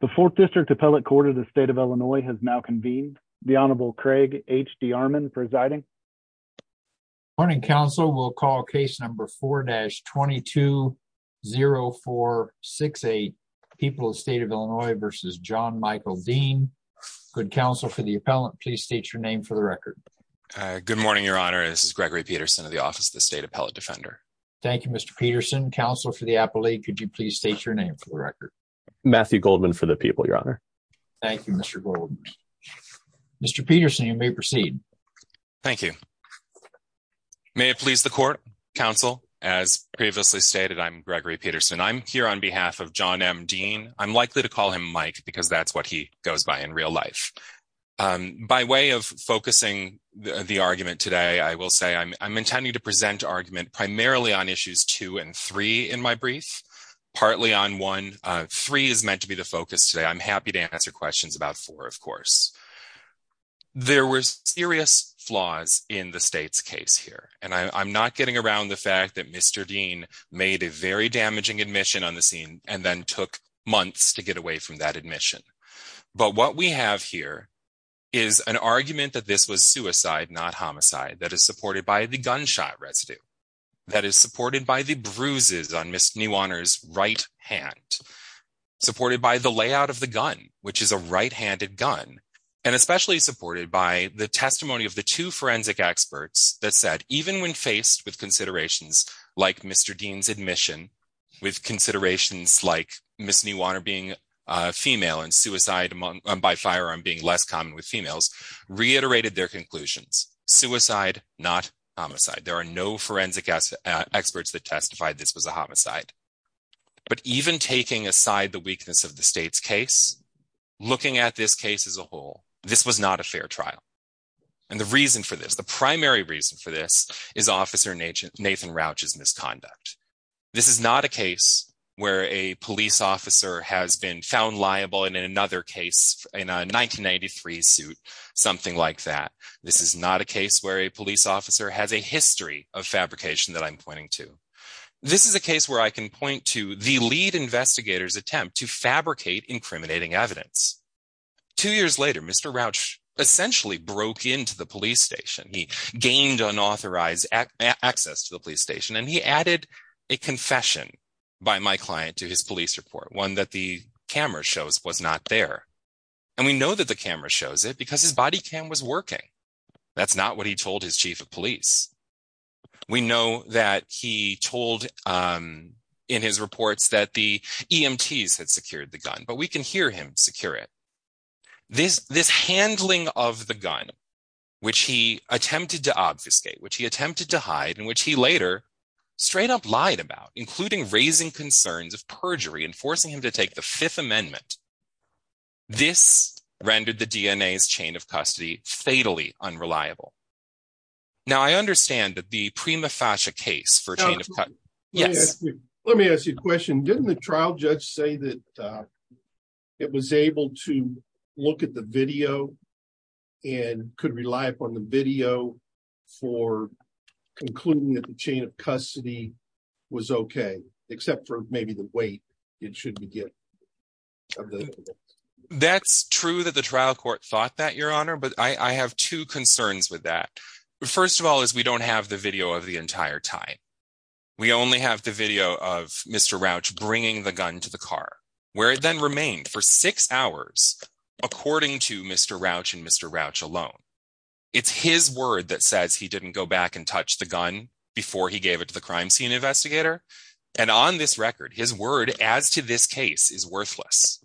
The 4th District Appellate Court of the State of Illinois has now convened. The Honorable Craig H. D. Armond presiding. Morning, counsel. We'll call case number 4-220468, People of the State of Illinois v. John Michael Dean. Good morning, counsel. For the appellant, please state your name for the record. Good morning, Your Honor. This is Gregory Peterson of the Office of the State Appellate Defender. Thank you, Mr. Peterson. Counsel, for the appellate, could you please state your name for the record? Matthew Goldman, for the people, Your Honor. Thank you, Mr. Goldman. Mr. Peterson, you may proceed. Thank you. May it please the court, counsel? As previously stated, I'm Gregory Peterson. I'm here on behalf of John M. Dean. I'm likely to call him Mike because that's what he goes by in real life. By way of focusing the argument today, I will say I'm intending to present argument primarily on issues 2 and 3 in my brief, partly on 1. 3 is meant to be the focus today. I'm happy to answer questions about 4, of course. There were serious flaws in the state's case here, and I'm not getting around the fact that Mr. Dean made a very damaging admission on the scene and then took months to get away from that admission. But what we have here is an argument that this was suicide, not homicide, that is supported by the gunshot residue, that is supported by the bruises on Ms. Newaner's right hand, supported by the layout of the gun, which is a right-handed gun, and especially supported by the testimony of the two forensic experts that said, even when faced with considerations like Mr. Dean's admission, with considerations like Ms. Newaner being female and suicide by firearm being less common with females, reiterated their conclusions. Suicide, not homicide. There are no forensic experts that testified this was a homicide. But even taking aside the weakness of the state's case, looking at this case as a whole, this was not a fair trial. And the reason for this, the primary reason for this, is Officer Nathan Rauch's misconduct. This is not a case where a police officer has been found liable in another case, in a 1993 suit, something like that. This is not a case where a police officer has a history of fabrication that I'm pointing to. This is a case where I can point to the lead investigator's attempt to fabricate incriminating evidence. Two years later, Mr. Rauch essentially broke into the police station. He gained unauthorized access to the police station, and he added a confession by my client to his police report, one that the camera shows was not there. And we know that the camera shows it because his body cam was working. That's not what he told his chief of police. We know that he told in his reports that the EMTs had secured the gun, but we can hear him secure it. This handling of the gun, which he attempted to obfuscate, which he attempted to hide, and which he later straight up lied about, including raising concerns of perjury and forcing him to take the Fifth Amendment, this rendered the DNA's chain of custody fatally unreliable. Now, I understand the Prima Fascia case for chain of custody. Yes. Let me ask you a question. Didn't the trial judge say that it was able to look at the video and could rely upon the video for concluding that the chain of custody was okay, except for maybe the weight it should be given? That's true that the trial court thought that, Your Honor, but I have two concerns with that. First of all is we don't have the video of the entire time. We only have the video of Mr. Rauch bringing the gun to the car, where it then remained for six hours, according to Mr. Rauch and Mr. Rauch alone. It's his word that says he didn't go back and touch the gun before he gave it to the crime scene investigator. And on this record, his word as to this case is worthless.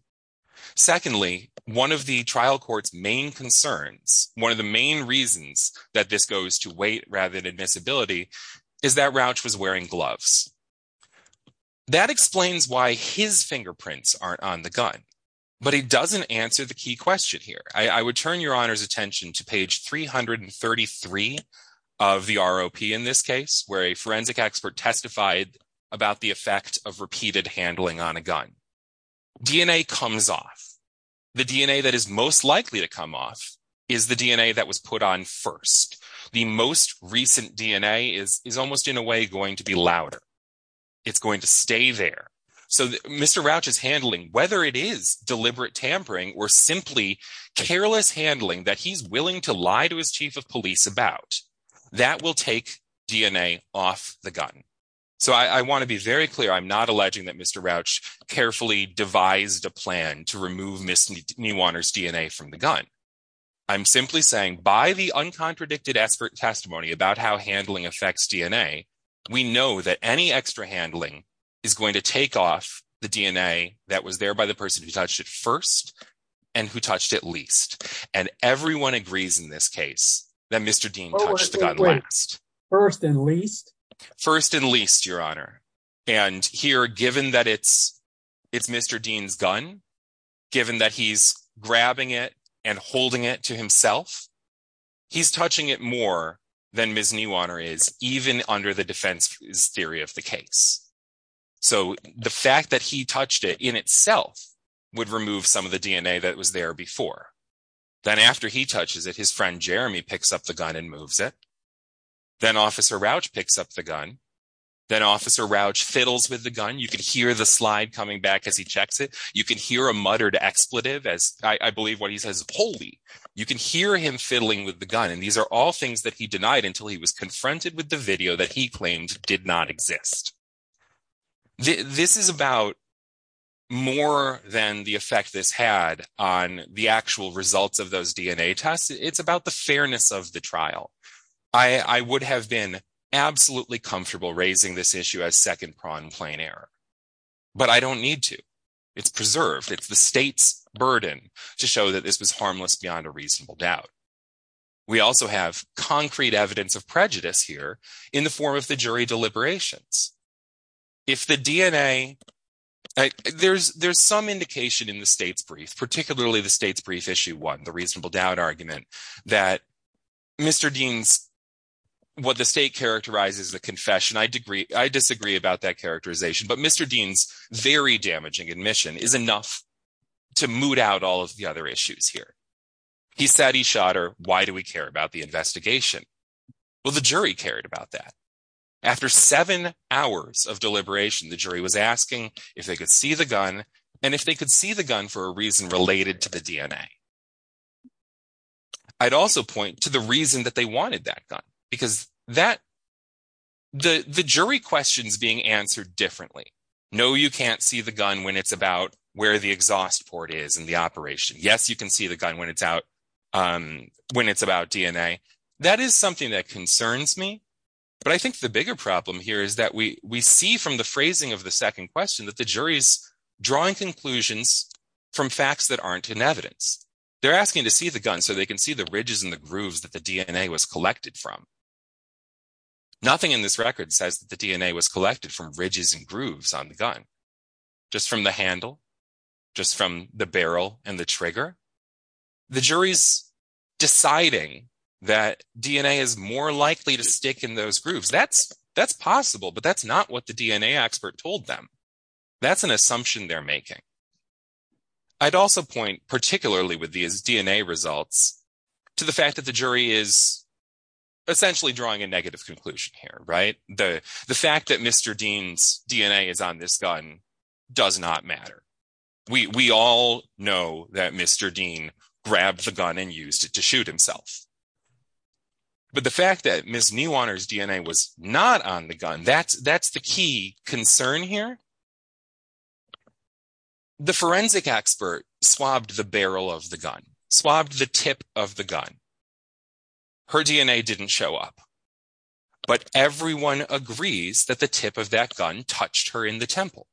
Secondly, one of the trial court's main concerns, one of the main reasons that this goes to weight rather than admissibility, is that Rauch was wearing gloves. That explains why his fingerprints aren't on the gun. But it doesn't answer the key question here. I would turn Your Honor's attention to page 333 of the ROP in this case, where a forensic expert testified about the effect of repeated handling on a gun. DNA comes off. The DNA that is most likely to come off is the DNA that was put on first. The most recent DNA is almost in a way going to be louder. It's going to stay there. So Mr. Rauch's handling, whether it is deliberate tampering or simply careless handling that he's willing to lie to his chief of police about, that will take DNA off the gun. So I want to be very clear. I'm not alleging that Mr. Rauch carefully devised a plan to remove Ms. Newaner's DNA from the gun. I'm simply saying, by the uncontradicted expert testimony about how handling affects DNA, we know that any extra handling is going to take off the DNA that was there by the person who touched it first and who touched it least. And everyone agrees in this case that Mr. Dean touched the gun last. First and least? First and least, Your Honor. And here, given that it's Mr. Dean's gun, given that he's grabbing it and holding it to himself, he's touching it more than Ms. Newaner is, even under the defense theory of the case. So the fact that he touched it in itself would remove some of the DNA that was there before. Then after he touches it, his friend Jeremy picks up the gun and moves it. Then Officer Rauch picks up the gun. Then Officer Rauch fiddles with the gun. You can hear the slide coming back as he checks it. You can hear a muttered expletive as I believe what he says, holy. You can hear him fiddling with the gun. And these are all things that he denied until he was confronted with the video that he claimed did not exist. This is about more than the effect this had on the actual results of those DNA tests. It's about the fairness of the trial. I would have been absolutely comfortable raising this issue as second-pronged plain error. But I don't need to. It's preserved. It's the state's burden to show that this was harmless beyond a reasonable doubt. We also have concrete evidence of prejudice here in the form of the jury deliberations. If the DNA, there's some indication in the state's brief, particularly the state's brief issue one, the reasonable doubt argument, that Mr. Dean's, what the state characterizes as a confession. I disagree about that characterization. But Mr. Dean's very damaging admission is enough to moot out all of the other issues here. He said he shot her. Why do we care about the investigation? Well, the jury cared about that. After seven hours of deliberation, the jury was asking if they could see the gun and if they could see the gun for a reason related to the DNA. I'd also point to the reason that they wanted that gun because that, the jury questions being answered differently. No, you can't see the gun when it's about where the exhaust port is in the operation. Yes, you can see the gun when it's out, when it's about DNA. That is something that concerns me. But I think the bigger problem here is that we see from the phrasing of the second question that the jury is drawing conclusions from facts that aren't in evidence. They're asking to see the gun so they can see the ridges and the grooves that the DNA was collected from. Nothing in this record says that the DNA was collected from ridges and grooves on the gun, just from the handle, just from the barrel and the trigger. The jury's deciding that DNA is more likely to stick in those grooves. That's possible, but that's not what the DNA expert told them. That's an assumption they're making. I'd also point, particularly with these DNA results, to the fact that the jury is essentially drawing a negative conclusion here, right? The fact that Mr. Dean's DNA is on this gun does not matter. We all know that Mr. Dean grabbed the gun and used it to shoot himself. But the fact that Ms. Newaner's DNA was not on the gun, that's the key concern here. The forensic expert swabbed the barrel of the gun, swabbed the tip of the gun. Her DNA didn't show up. But everyone agrees that the tip of that gun touched her in the temple.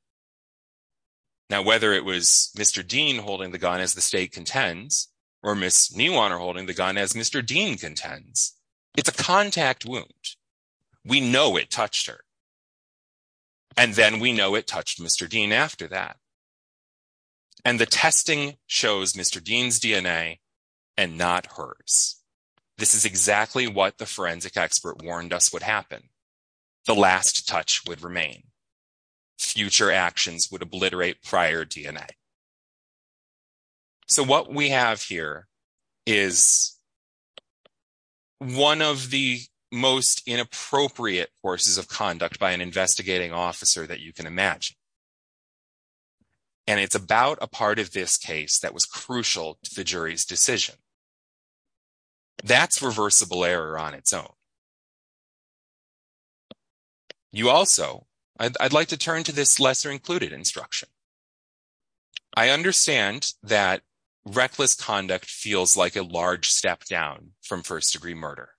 Now, whether it was Mr. Dean holding the gun as the state contends or Ms. Newaner holding the gun as Mr. Dean contends, it's a contact wound. We know it touched her. And then we know it touched Mr. Dean after that. And the testing shows Mr. Dean's DNA and not hers. This is exactly what the forensic expert warned us would happen. The last touch would remain. Future actions would obliterate prior DNA. So what we have here is one of the most inappropriate forces of conduct by an investigating officer that you can imagine. And it's about a part of this case that was crucial to the jury's decision. That's reversible error on its own. You also, I'd like to turn to this lesser included instruction. I understand that reckless conduct feels like a large step down from first degree murder.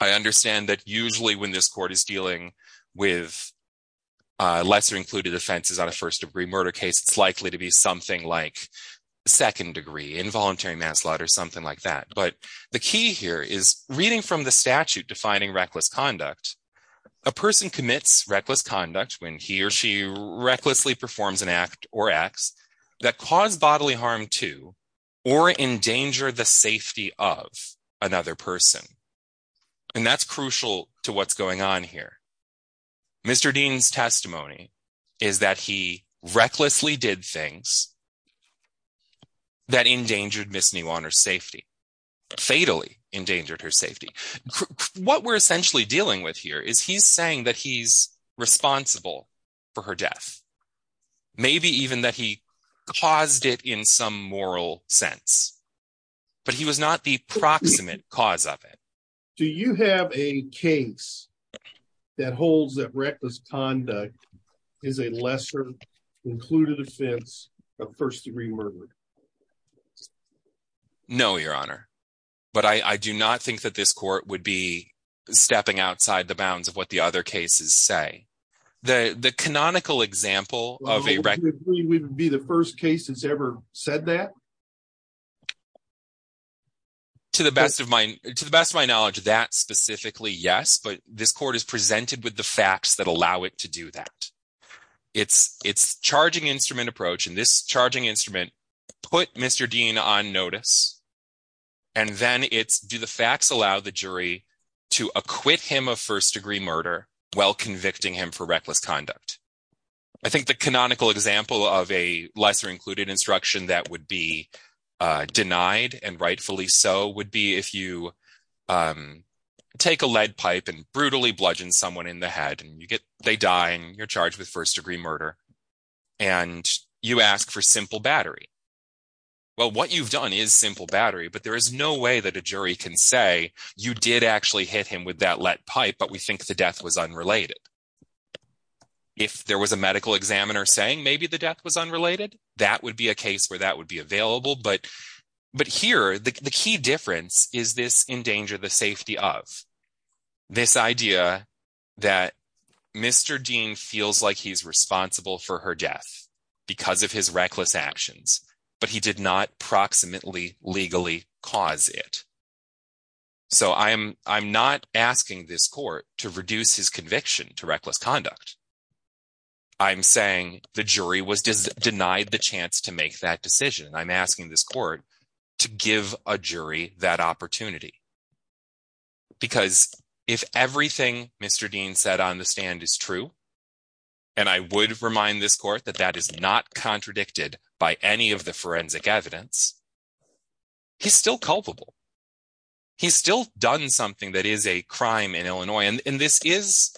I understand that usually when this court is dealing with lesser included offenses on a first degree murder case, it's likely to be something like second degree, involuntary manslaughter, something like that. But the key here is reading from the statute defining reckless conduct. A person commits reckless conduct when he or she recklessly performs an act or acts that cause bodily harm to or endanger the safety of another person. And that's crucial to what's going on here. Mr. Dean's testimony is that he recklessly did things that endangered Miss New Honor's safety, fatally endangered her safety. What we're essentially dealing with here is he's saying that he's responsible for her death. Maybe even that he caused it in some moral sense. But he was not the proximate cause of it. Do you have a case that holds that reckless conduct is a lesser included offense of first degree murder? No, Your Honor. But I do not think that this court would be stepping outside the bounds of what the other cases say. The canonical example of a reckless... Do you agree we would be the first case that's ever said that? To the best of my knowledge, that specifically, yes. But this court is presented with the facts that allow it to do that. It's charging instrument approach. And this charging instrument put Mr. Dean on notice. And then it's do the facts allow the jury to acquit him of first degree murder while convicting him for reckless conduct? I think the canonical example of a lesser included instruction that would be denied and rightfully so would be if you take a lead pipe and brutally bludgeon someone in the head and they die and you're charged with first degree murder. And you ask for simple battery. Well, what you've done is simple battery, but there is no way that a jury can say you did actually hit him with that lead pipe, but we think the death was unrelated. If there was a medical examiner saying maybe the death was unrelated, that would be a case where that would be available. But here, the key difference is this endanger the safety of. This idea that Mr. Dean feels like he's responsible for her death because of his reckless actions, but he did not proximately legally cause it. So I am I'm not asking this court to reduce his conviction to reckless conduct. I'm saying the jury was denied the chance to make that decision. I'm asking this court to give a jury that opportunity. Because if everything Mr. Dean said on the stand is true. And I would remind this court that that is not contradicted by any of the forensic evidence. He's still culpable. He's still done something that is a crime in Illinois. And this is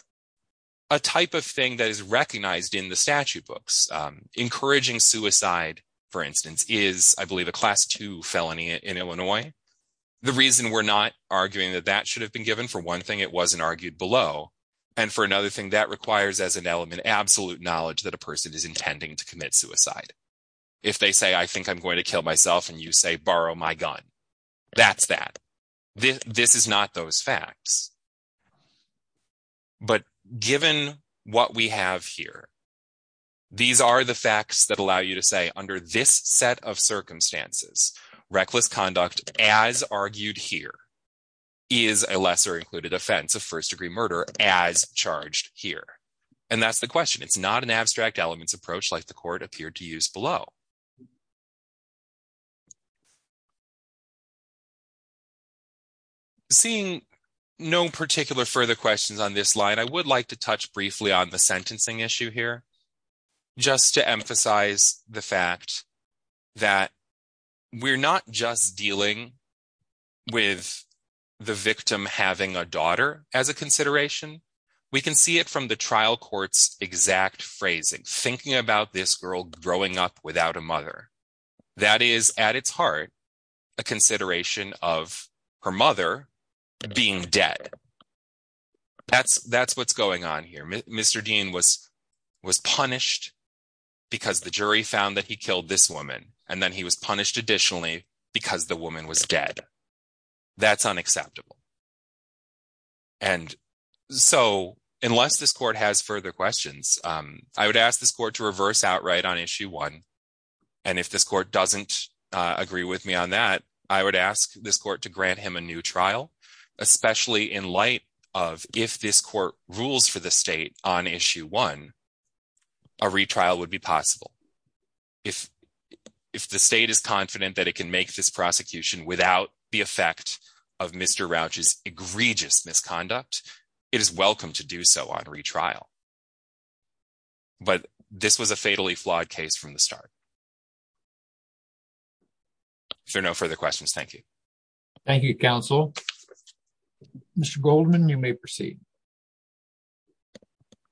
a type of thing that is recognized in the statute books. Encouraging suicide, for instance, is, I believe, a class two felony in Illinois. The reason we're not arguing that that should have been given, for one thing, it wasn't argued below. And for another thing, that requires as an element absolute knowledge that a person is intending to commit suicide. If they say, I think I'm going to kill myself and you say, borrow my gun. That's that. This is not those facts. But given what we have here, these are the facts that allow you to say under this set of circumstances, reckless conduct, as argued here, is a lesser included offense of first degree murder as charged here. And that's the question. It's not an abstract elements approach like the court appeared to use below. Seeing no particular further questions on this line, I would like to touch briefly on the sentencing issue here. Just to emphasize the fact that we're not just dealing with the victim having a daughter as a consideration. We can see it from the trial court's exact phrasing. Thinking about this girl growing up without a mother. That is, at its heart, a consideration of her mother being dead. That's what's going on here. Mr. Dean was punished because the jury found that he killed this woman. And then he was punished additionally because the woman was dead. That's unacceptable. And so unless this court has further questions, I would ask this court to reverse outright on issue one. And if this court doesn't agree with me on that, I would ask this court to grant him a new trial, especially in light of if this court rules for the state on issue one, a retrial would be possible. If the state is confident that it can make this prosecution without the effect of Mr. Rauch's egregious misconduct, it is welcome to do so on retrial. But this was a fatally flawed case from the start. If there are no further questions, thank you. Thank you, counsel. Mr. Goldman, you may proceed.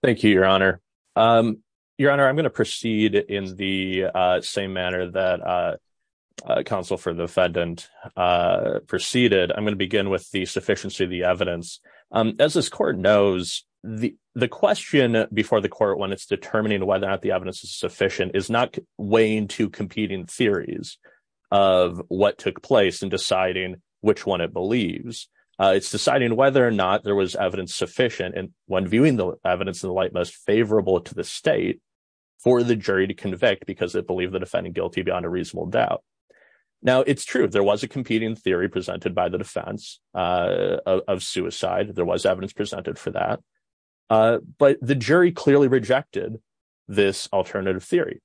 Thank you, Your Honor. Your Honor, I'm going to proceed in the same manner that counsel for the defendant proceeded. I'm going to begin with the sufficiency of the evidence. As this court knows, the question before the court when it's determining whether or not the evidence is sufficient is not weighing two competing theories of what took place and deciding which one it believes. It's deciding whether or not there was evidence sufficient. And when viewing the evidence of the light, most favorable to the state for the jury to convict because they believe the defendant guilty beyond a reasonable doubt. Now, it's true. There was a competing theory presented by the defense of suicide. There was evidence presented for that. But the jury clearly rejected this alternative theory.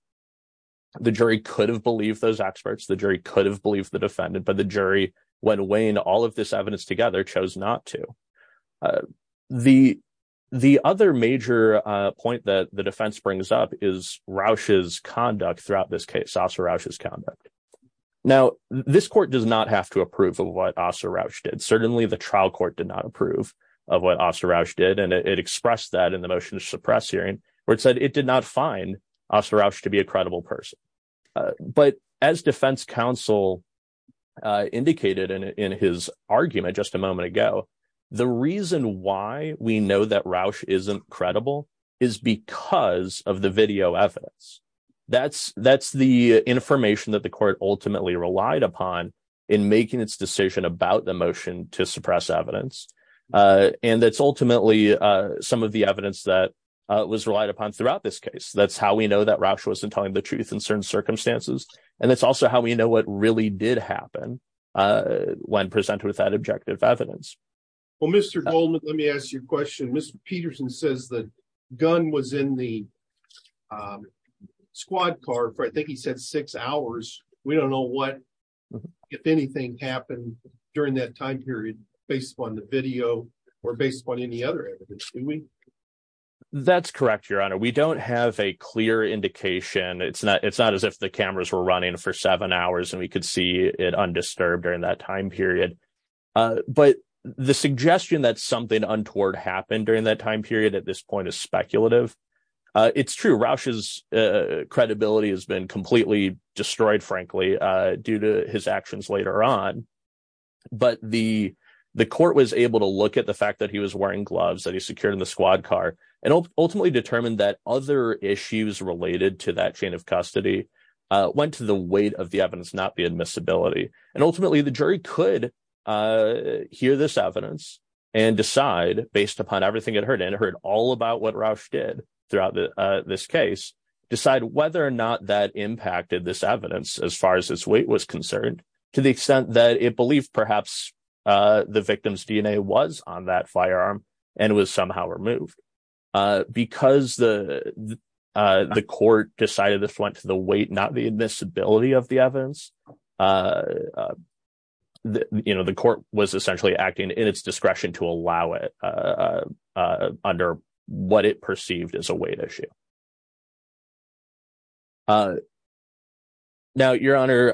The jury could have believed those experts. The jury could have believed the defendant. But the jury, when weighing all of this evidence together, chose not to. The the other major point that the defense brings up is Rauch's conduct throughout this case, also Rauch's conduct. Now, this court does not have to approve of what also Rauch did. Certainly, the trial court did not approve of what also Rauch did. And it expressed that in the motion to suppress hearing where it said it did not find officer Rauch to be a credible person. But as defense counsel indicated in his argument just a moment ago, the reason why we know that Rauch isn't credible is because of the video evidence. That's that's the information that the court ultimately relied upon in making its decision about the motion to suppress evidence. And that's ultimately some of the evidence that was relied upon throughout this case. That's how we know that Rauch wasn't telling the truth in certain circumstances. And that's also how we know what really did happen when presented with that objective evidence. Well, Mr. Goldman, let me ask you a question. Mr. Peterson says the gun was in the squad car for, I think he said, six hours. We don't know what, if anything, happened during that time period based on the video or based on any other evidence, do we? That's correct, Your Honor. We don't have a clear indication. It's not it's not as if the cameras were running for seven hours and we could see it undisturbed during that time period. But the suggestion that something untoward happened during that time period at this point is speculative. It's true. Rauch's credibility has been completely destroyed, frankly, due to his actions later on. But the the court was able to look at the fact that he was wearing gloves that he secured in the squad car and ultimately determined that other issues related to that chain of custody went to the weight of the evidence, not the admissibility. And ultimately, the jury could hear this evidence and decide, based upon everything it heard and heard all about what Rauch did throughout this case, decide whether or not that impacted this evidence as far as its weight was concerned, to the extent that it believed perhaps the victim's DNA was on that firearm and was somehow removed. Because the the court decided this went to the weight, not the admissibility of the evidence, the court was essentially acting in its discretion to allow it under what it perceived as a weight issue. Now, Your Honor,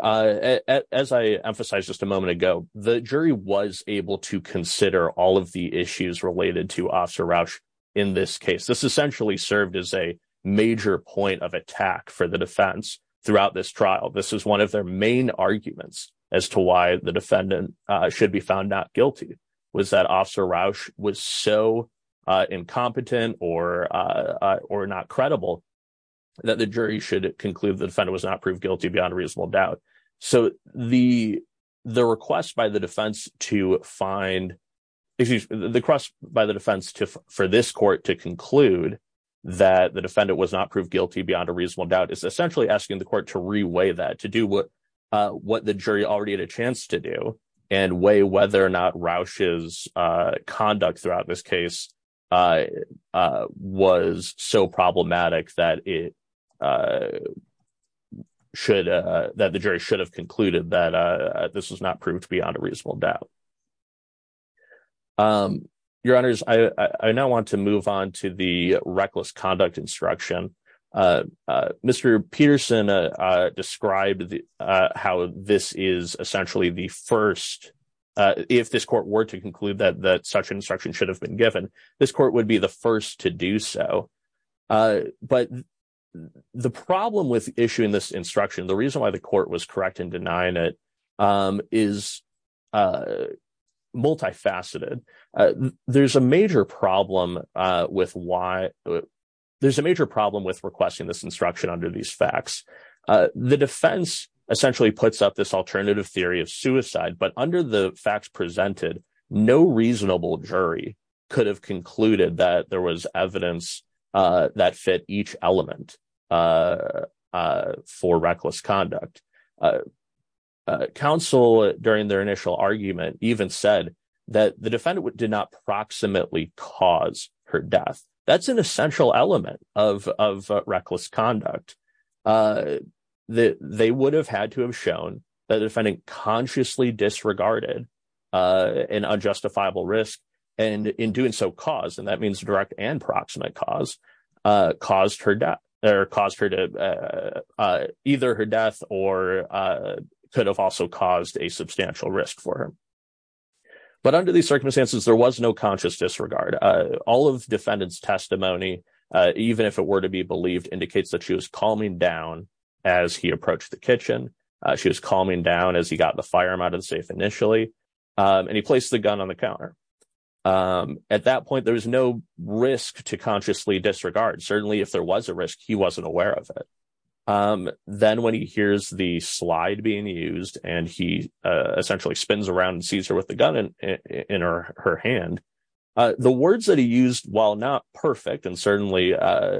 as I emphasized just a moment ago, the jury was able to consider all of the issues related to Officer Rauch in this case. This essentially served as a major point of attack for the defense throughout this trial. This is one of their main arguments as to why the defendant should be found not guilty was that Officer Rauch was so incompetent or or not credible that the jury should conclude the defendant was not proved guilty beyond a reasonable doubt. So the the request by the defense to find the cross by the defense for this court to conclude that the defendant was not proved guilty beyond a reasonable doubt is essentially asking the court to reweigh that, that the jury should have concluded that this was not proved beyond a reasonable doubt. Your Honors, I now want to move on to the reckless conduct instruction. Mr. Peterson described how this is essentially the first. If this court were to conclude that such instruction should have been given, this court would be the first to do so. But the problem with issuing this instruction, the reason why the court was correct in denying it is multifaceted. There's a major problem with why there's a major problem with requesting this instruction under these facts. The defense essentially puts up this alternative theory of suicide. But under the facts presented, no reasonable jury could have concluded that there was evidence that fit each element for reckless conduct. Counsel during their initial argument even said that the defendant did not proximately cause her death. That's an essential element of of reckless conduct that they would have had to have shown that the defendant consciously disregarded an unjustifiable risk and in doing so cause. Could have also caused a substantial risk for her. But under these circumstances, there was no conscious disregard. All of defendants testimony, even if it were to be believed, indicates that she was calming down as he approached the kitchen. She was calming down as he got the firearm out of the safe initially and he placed the gun on the counter. At that point, there was no risk to consciously disregard. Certainly, if there was a risk, he wasn't aware of it. Then when he hears the slide being used and he essentially spins around and sees her with the gun in her hand. The words that he used, while not perfect and certainly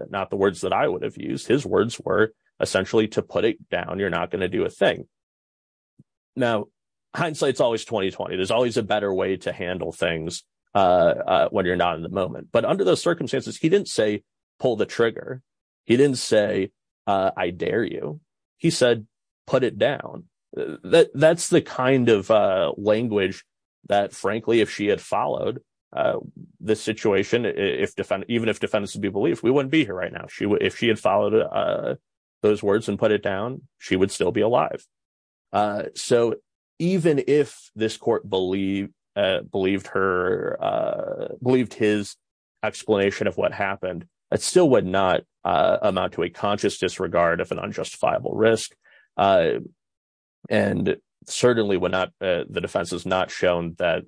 not the words that I would have used, his words were essentially to put it down. You're not going to do a thing. Now, hindsight's always 20-20. There's always a better way to handle things when you're not in the moment. But under those circumstances, he didn't say, pull the trigger. He didn't say, I dare you. He said, put it down. That's the kind of language that, frankly, if she had followed the situation, even if defendants would be believed, we wouldn't be here right now. If she had followed those words and put it down, she would still be alive. Even if this court believed his explanation of what happened, it still would not amount to a conscious disregard of an unjustifiable risk. Certainly, the defense has not shown that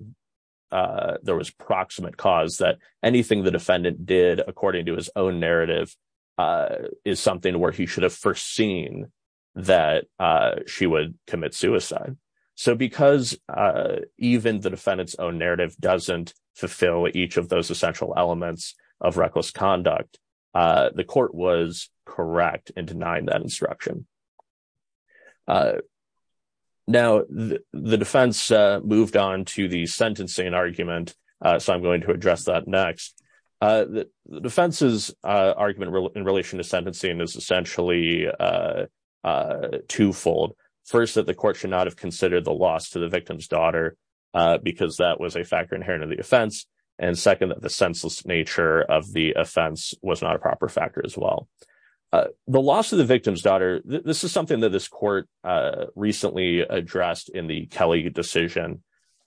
there was proximate cause that anything the defendant did, according to his own narrative, is something where he should have foreseen that she would commit suicide. So because even the defendant's own narrative doesn't fulfill each of those essential elements of reckless conduct, the court was correct in denying that instruction. Now, the defense moved on to the sentencing argument, so I'm going to address that next. The defense's argument in relation to sentencing is essentially twofold. First, that the court should not have considered the loss to the victim's daughter because that was a factor inherent in the offense. And second, that the senseless nature of the offense was not a proper factor as well. The loss of the victim's daughter, this is something that this court recently addressed in the Kelly decision.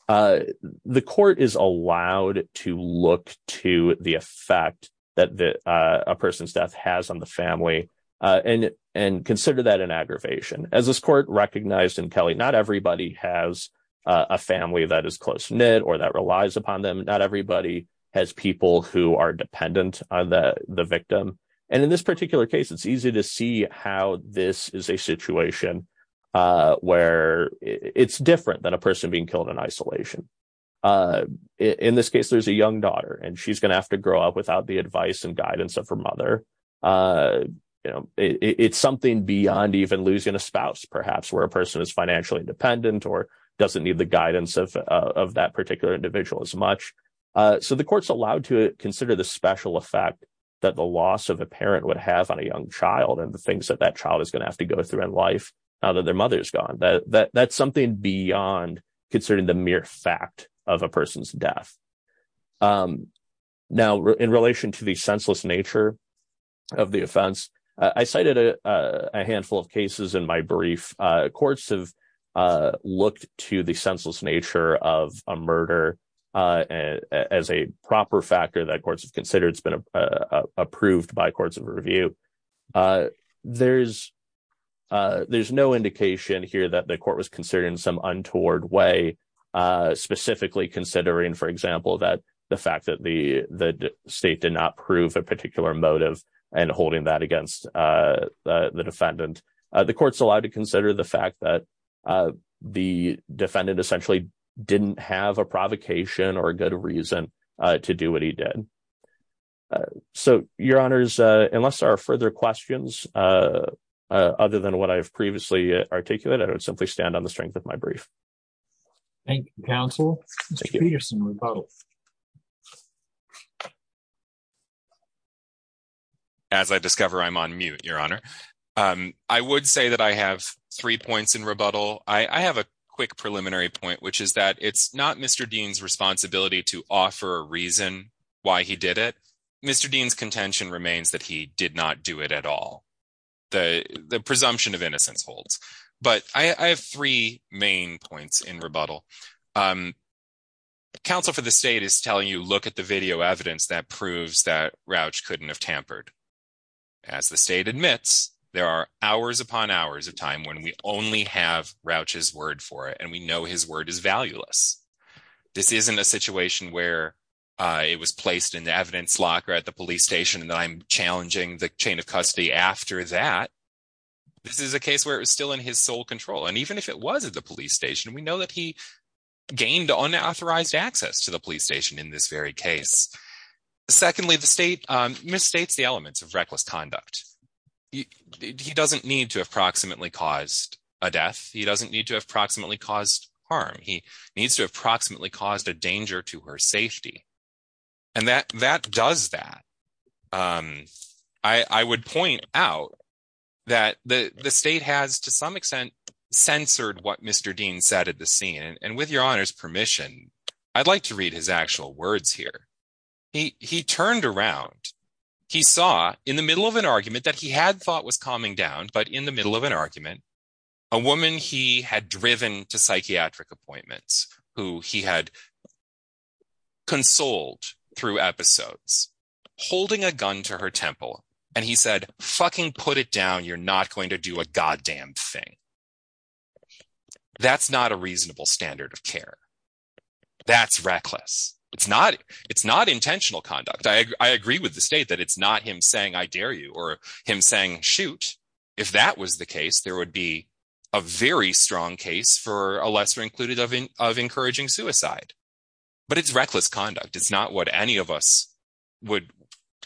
The court is allowed to look to the effect that a person's death has on the family and consider that an aggravation. As this court recognized in Kelly, not everybody has a family that is close-knit or that relies upon them. Not everybody has people who are dependent on the victim. And in this particular case, it's easy to see how this is a situation where it's different than a person being killed in isolation. In this case, there's a young daughter, and she's going to have to grow up without the advice and guidance of her mother. It's something beyond even losing a spouse, perhaps, where a person is financially independent or doesn't need the guidance of that particular individual as much. So the court's allowed to consider the special effect that the loss of a parent would have on a young child and the things that that child is going to have to go through in life now that their mother is gone. That's something beyond considering the mere fact of a person's death. Now, in relation to the senseless nature of the offense, I cited a handful of cases in my brief. Courts have looked to the senseless nature of a murder as a proper factor that courts have considered. It's been approved by courts of review. There's no indication here that the court was considering some untoward way, specifically considering, for example, that the fact that the state did not prove a particular motive and holding that against the defendant. The court's allowed to consider the fact that the defendant essentially didn't have a provocation or a good reason to do what he did. So, Your Honors, unless there are further questions other than what I've previously articulated, I would simply stand on the strength of my brief. Thank you, counsel. Mr. Peterson, rebuttal. As I discover I'm on mute, Your Honor. I would say that I have three points in rebuttal. I have a quick preliminary point, which is that it's not Mr. Dean's responsibility to offer a reason why he did it. Mr. Dean's contention remains that he did not do it at all. The presumption of innocence holds. But I have three main points in rebuttal. Counsel for the state is telling you, look at the video evidence that proves that Rouch couldn't have tampered. As the state admits, there are hours upon hours of time when we only have Rouch's word for it, and we know his word is valueless. This isn't a situation where it was placed in the evidence locker at the police station and I'm challenging the chain of custody after that. This is a case where it was still in his sole control. And even if it was at the police station, we know that he gained unauthorized access to the police station in this very case. Secondly, the state misstates the elements of reckless conduct. He doesn't need to have proximately caused a death. He doesn't need to have proximately caused harm. He needs to have proximately caused a danger to her safety. And that does that. I would point out that the state has, to some extent, censored what Mr. Dean said at the scene. And with your honor's permission, I'd like to read his actual words here. He turned around. He saw in the middle of an argument that he had thought was calming down, but in the middle of an argument, a woman he had driven to psychiatric appointments, who he had consoled through episodes, holding a gun to her temple. And he said, fucking put it down. You're not going to do a goddamn thing. That's not a reasonable standard of care. That's reckless. It's not intentional conduct. I agree with the state that it's not him saying, I dare you, or him saying, shoot. If that was the case, there would be a very strong case for a lesser included of encouraging suicide. But it's reckless conduct. It's not what any of us would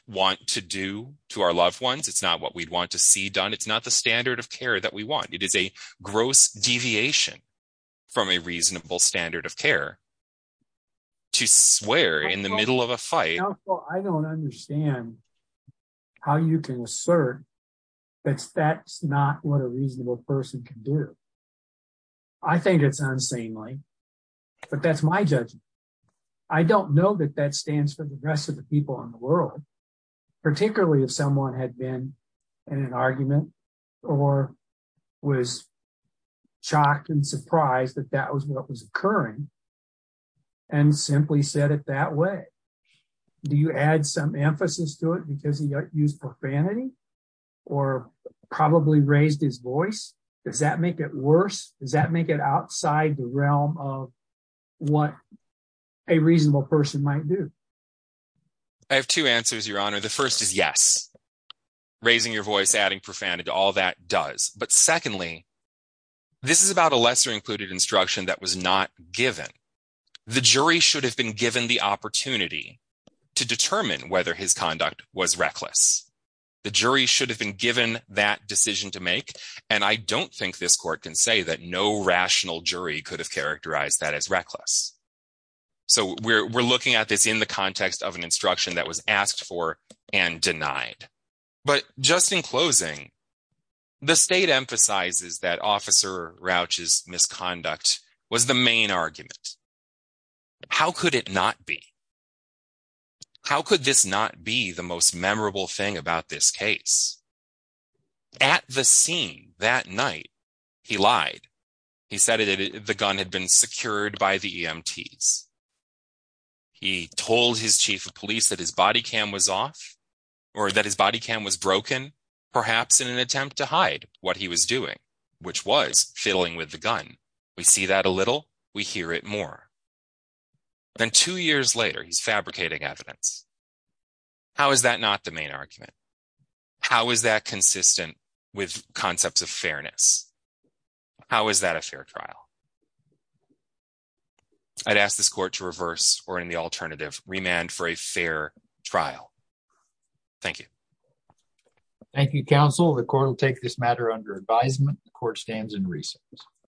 want to do to our loved ones. It's not what we'd want to see done. It's not the standard of care that we want. It is a gross deviation from a reasonable standard of care to swear in the middle of a fight. Counsel, I don't understand how you can assert that that's not what a reasonable person can do. I think it's unsanely. But that's my judgment. I don't know that that stands for the rest of the people in the world. Particularly if someone had been in an argument or was shocked and surprised that that was what was occurring and simply said it that way. Do you add some emphasis to it because he used profanity or probably raised his voice? Does that make it worse? Does that make it outside the realm of what a reasonable person might do? I have two answers, Your Honor. The first is yes. Raising your voice, adding profanity to all that does. But secondly, this is about a lesser included instruction that was not given. The jury should have been given the opportunity to determine whether his conduct was reckless. The jury should have been given that decision to make. And I don't think this court can say that no rational jury could have characterized that as reckless. So we're looking at this in the context of an instruction that was asked for and denied. But just in closing, the state emphasizes that Officer Rauch's misconduct was the main argument. How could it not be? How could this not be the most memorable thing about this case? At the scene that night, he lied. He said the gun had been secured by the EMTs. He told his chief of police that his body cam was off or that his body cam was broken, perhaps in an attempt to hide what he was doing, which was fiddling with the gun. We see that a little. We hear it more. Then two years later, he's fabricating evidence. How is that not the main argument? How is that consistent with concepts of fairness? How is that a fair trial? I'd ask this court to reverse or, in the alternative, remand for a fair trial. Thank you. Thank you, counsel. The court will take this matter under advisement. The court stands in recess.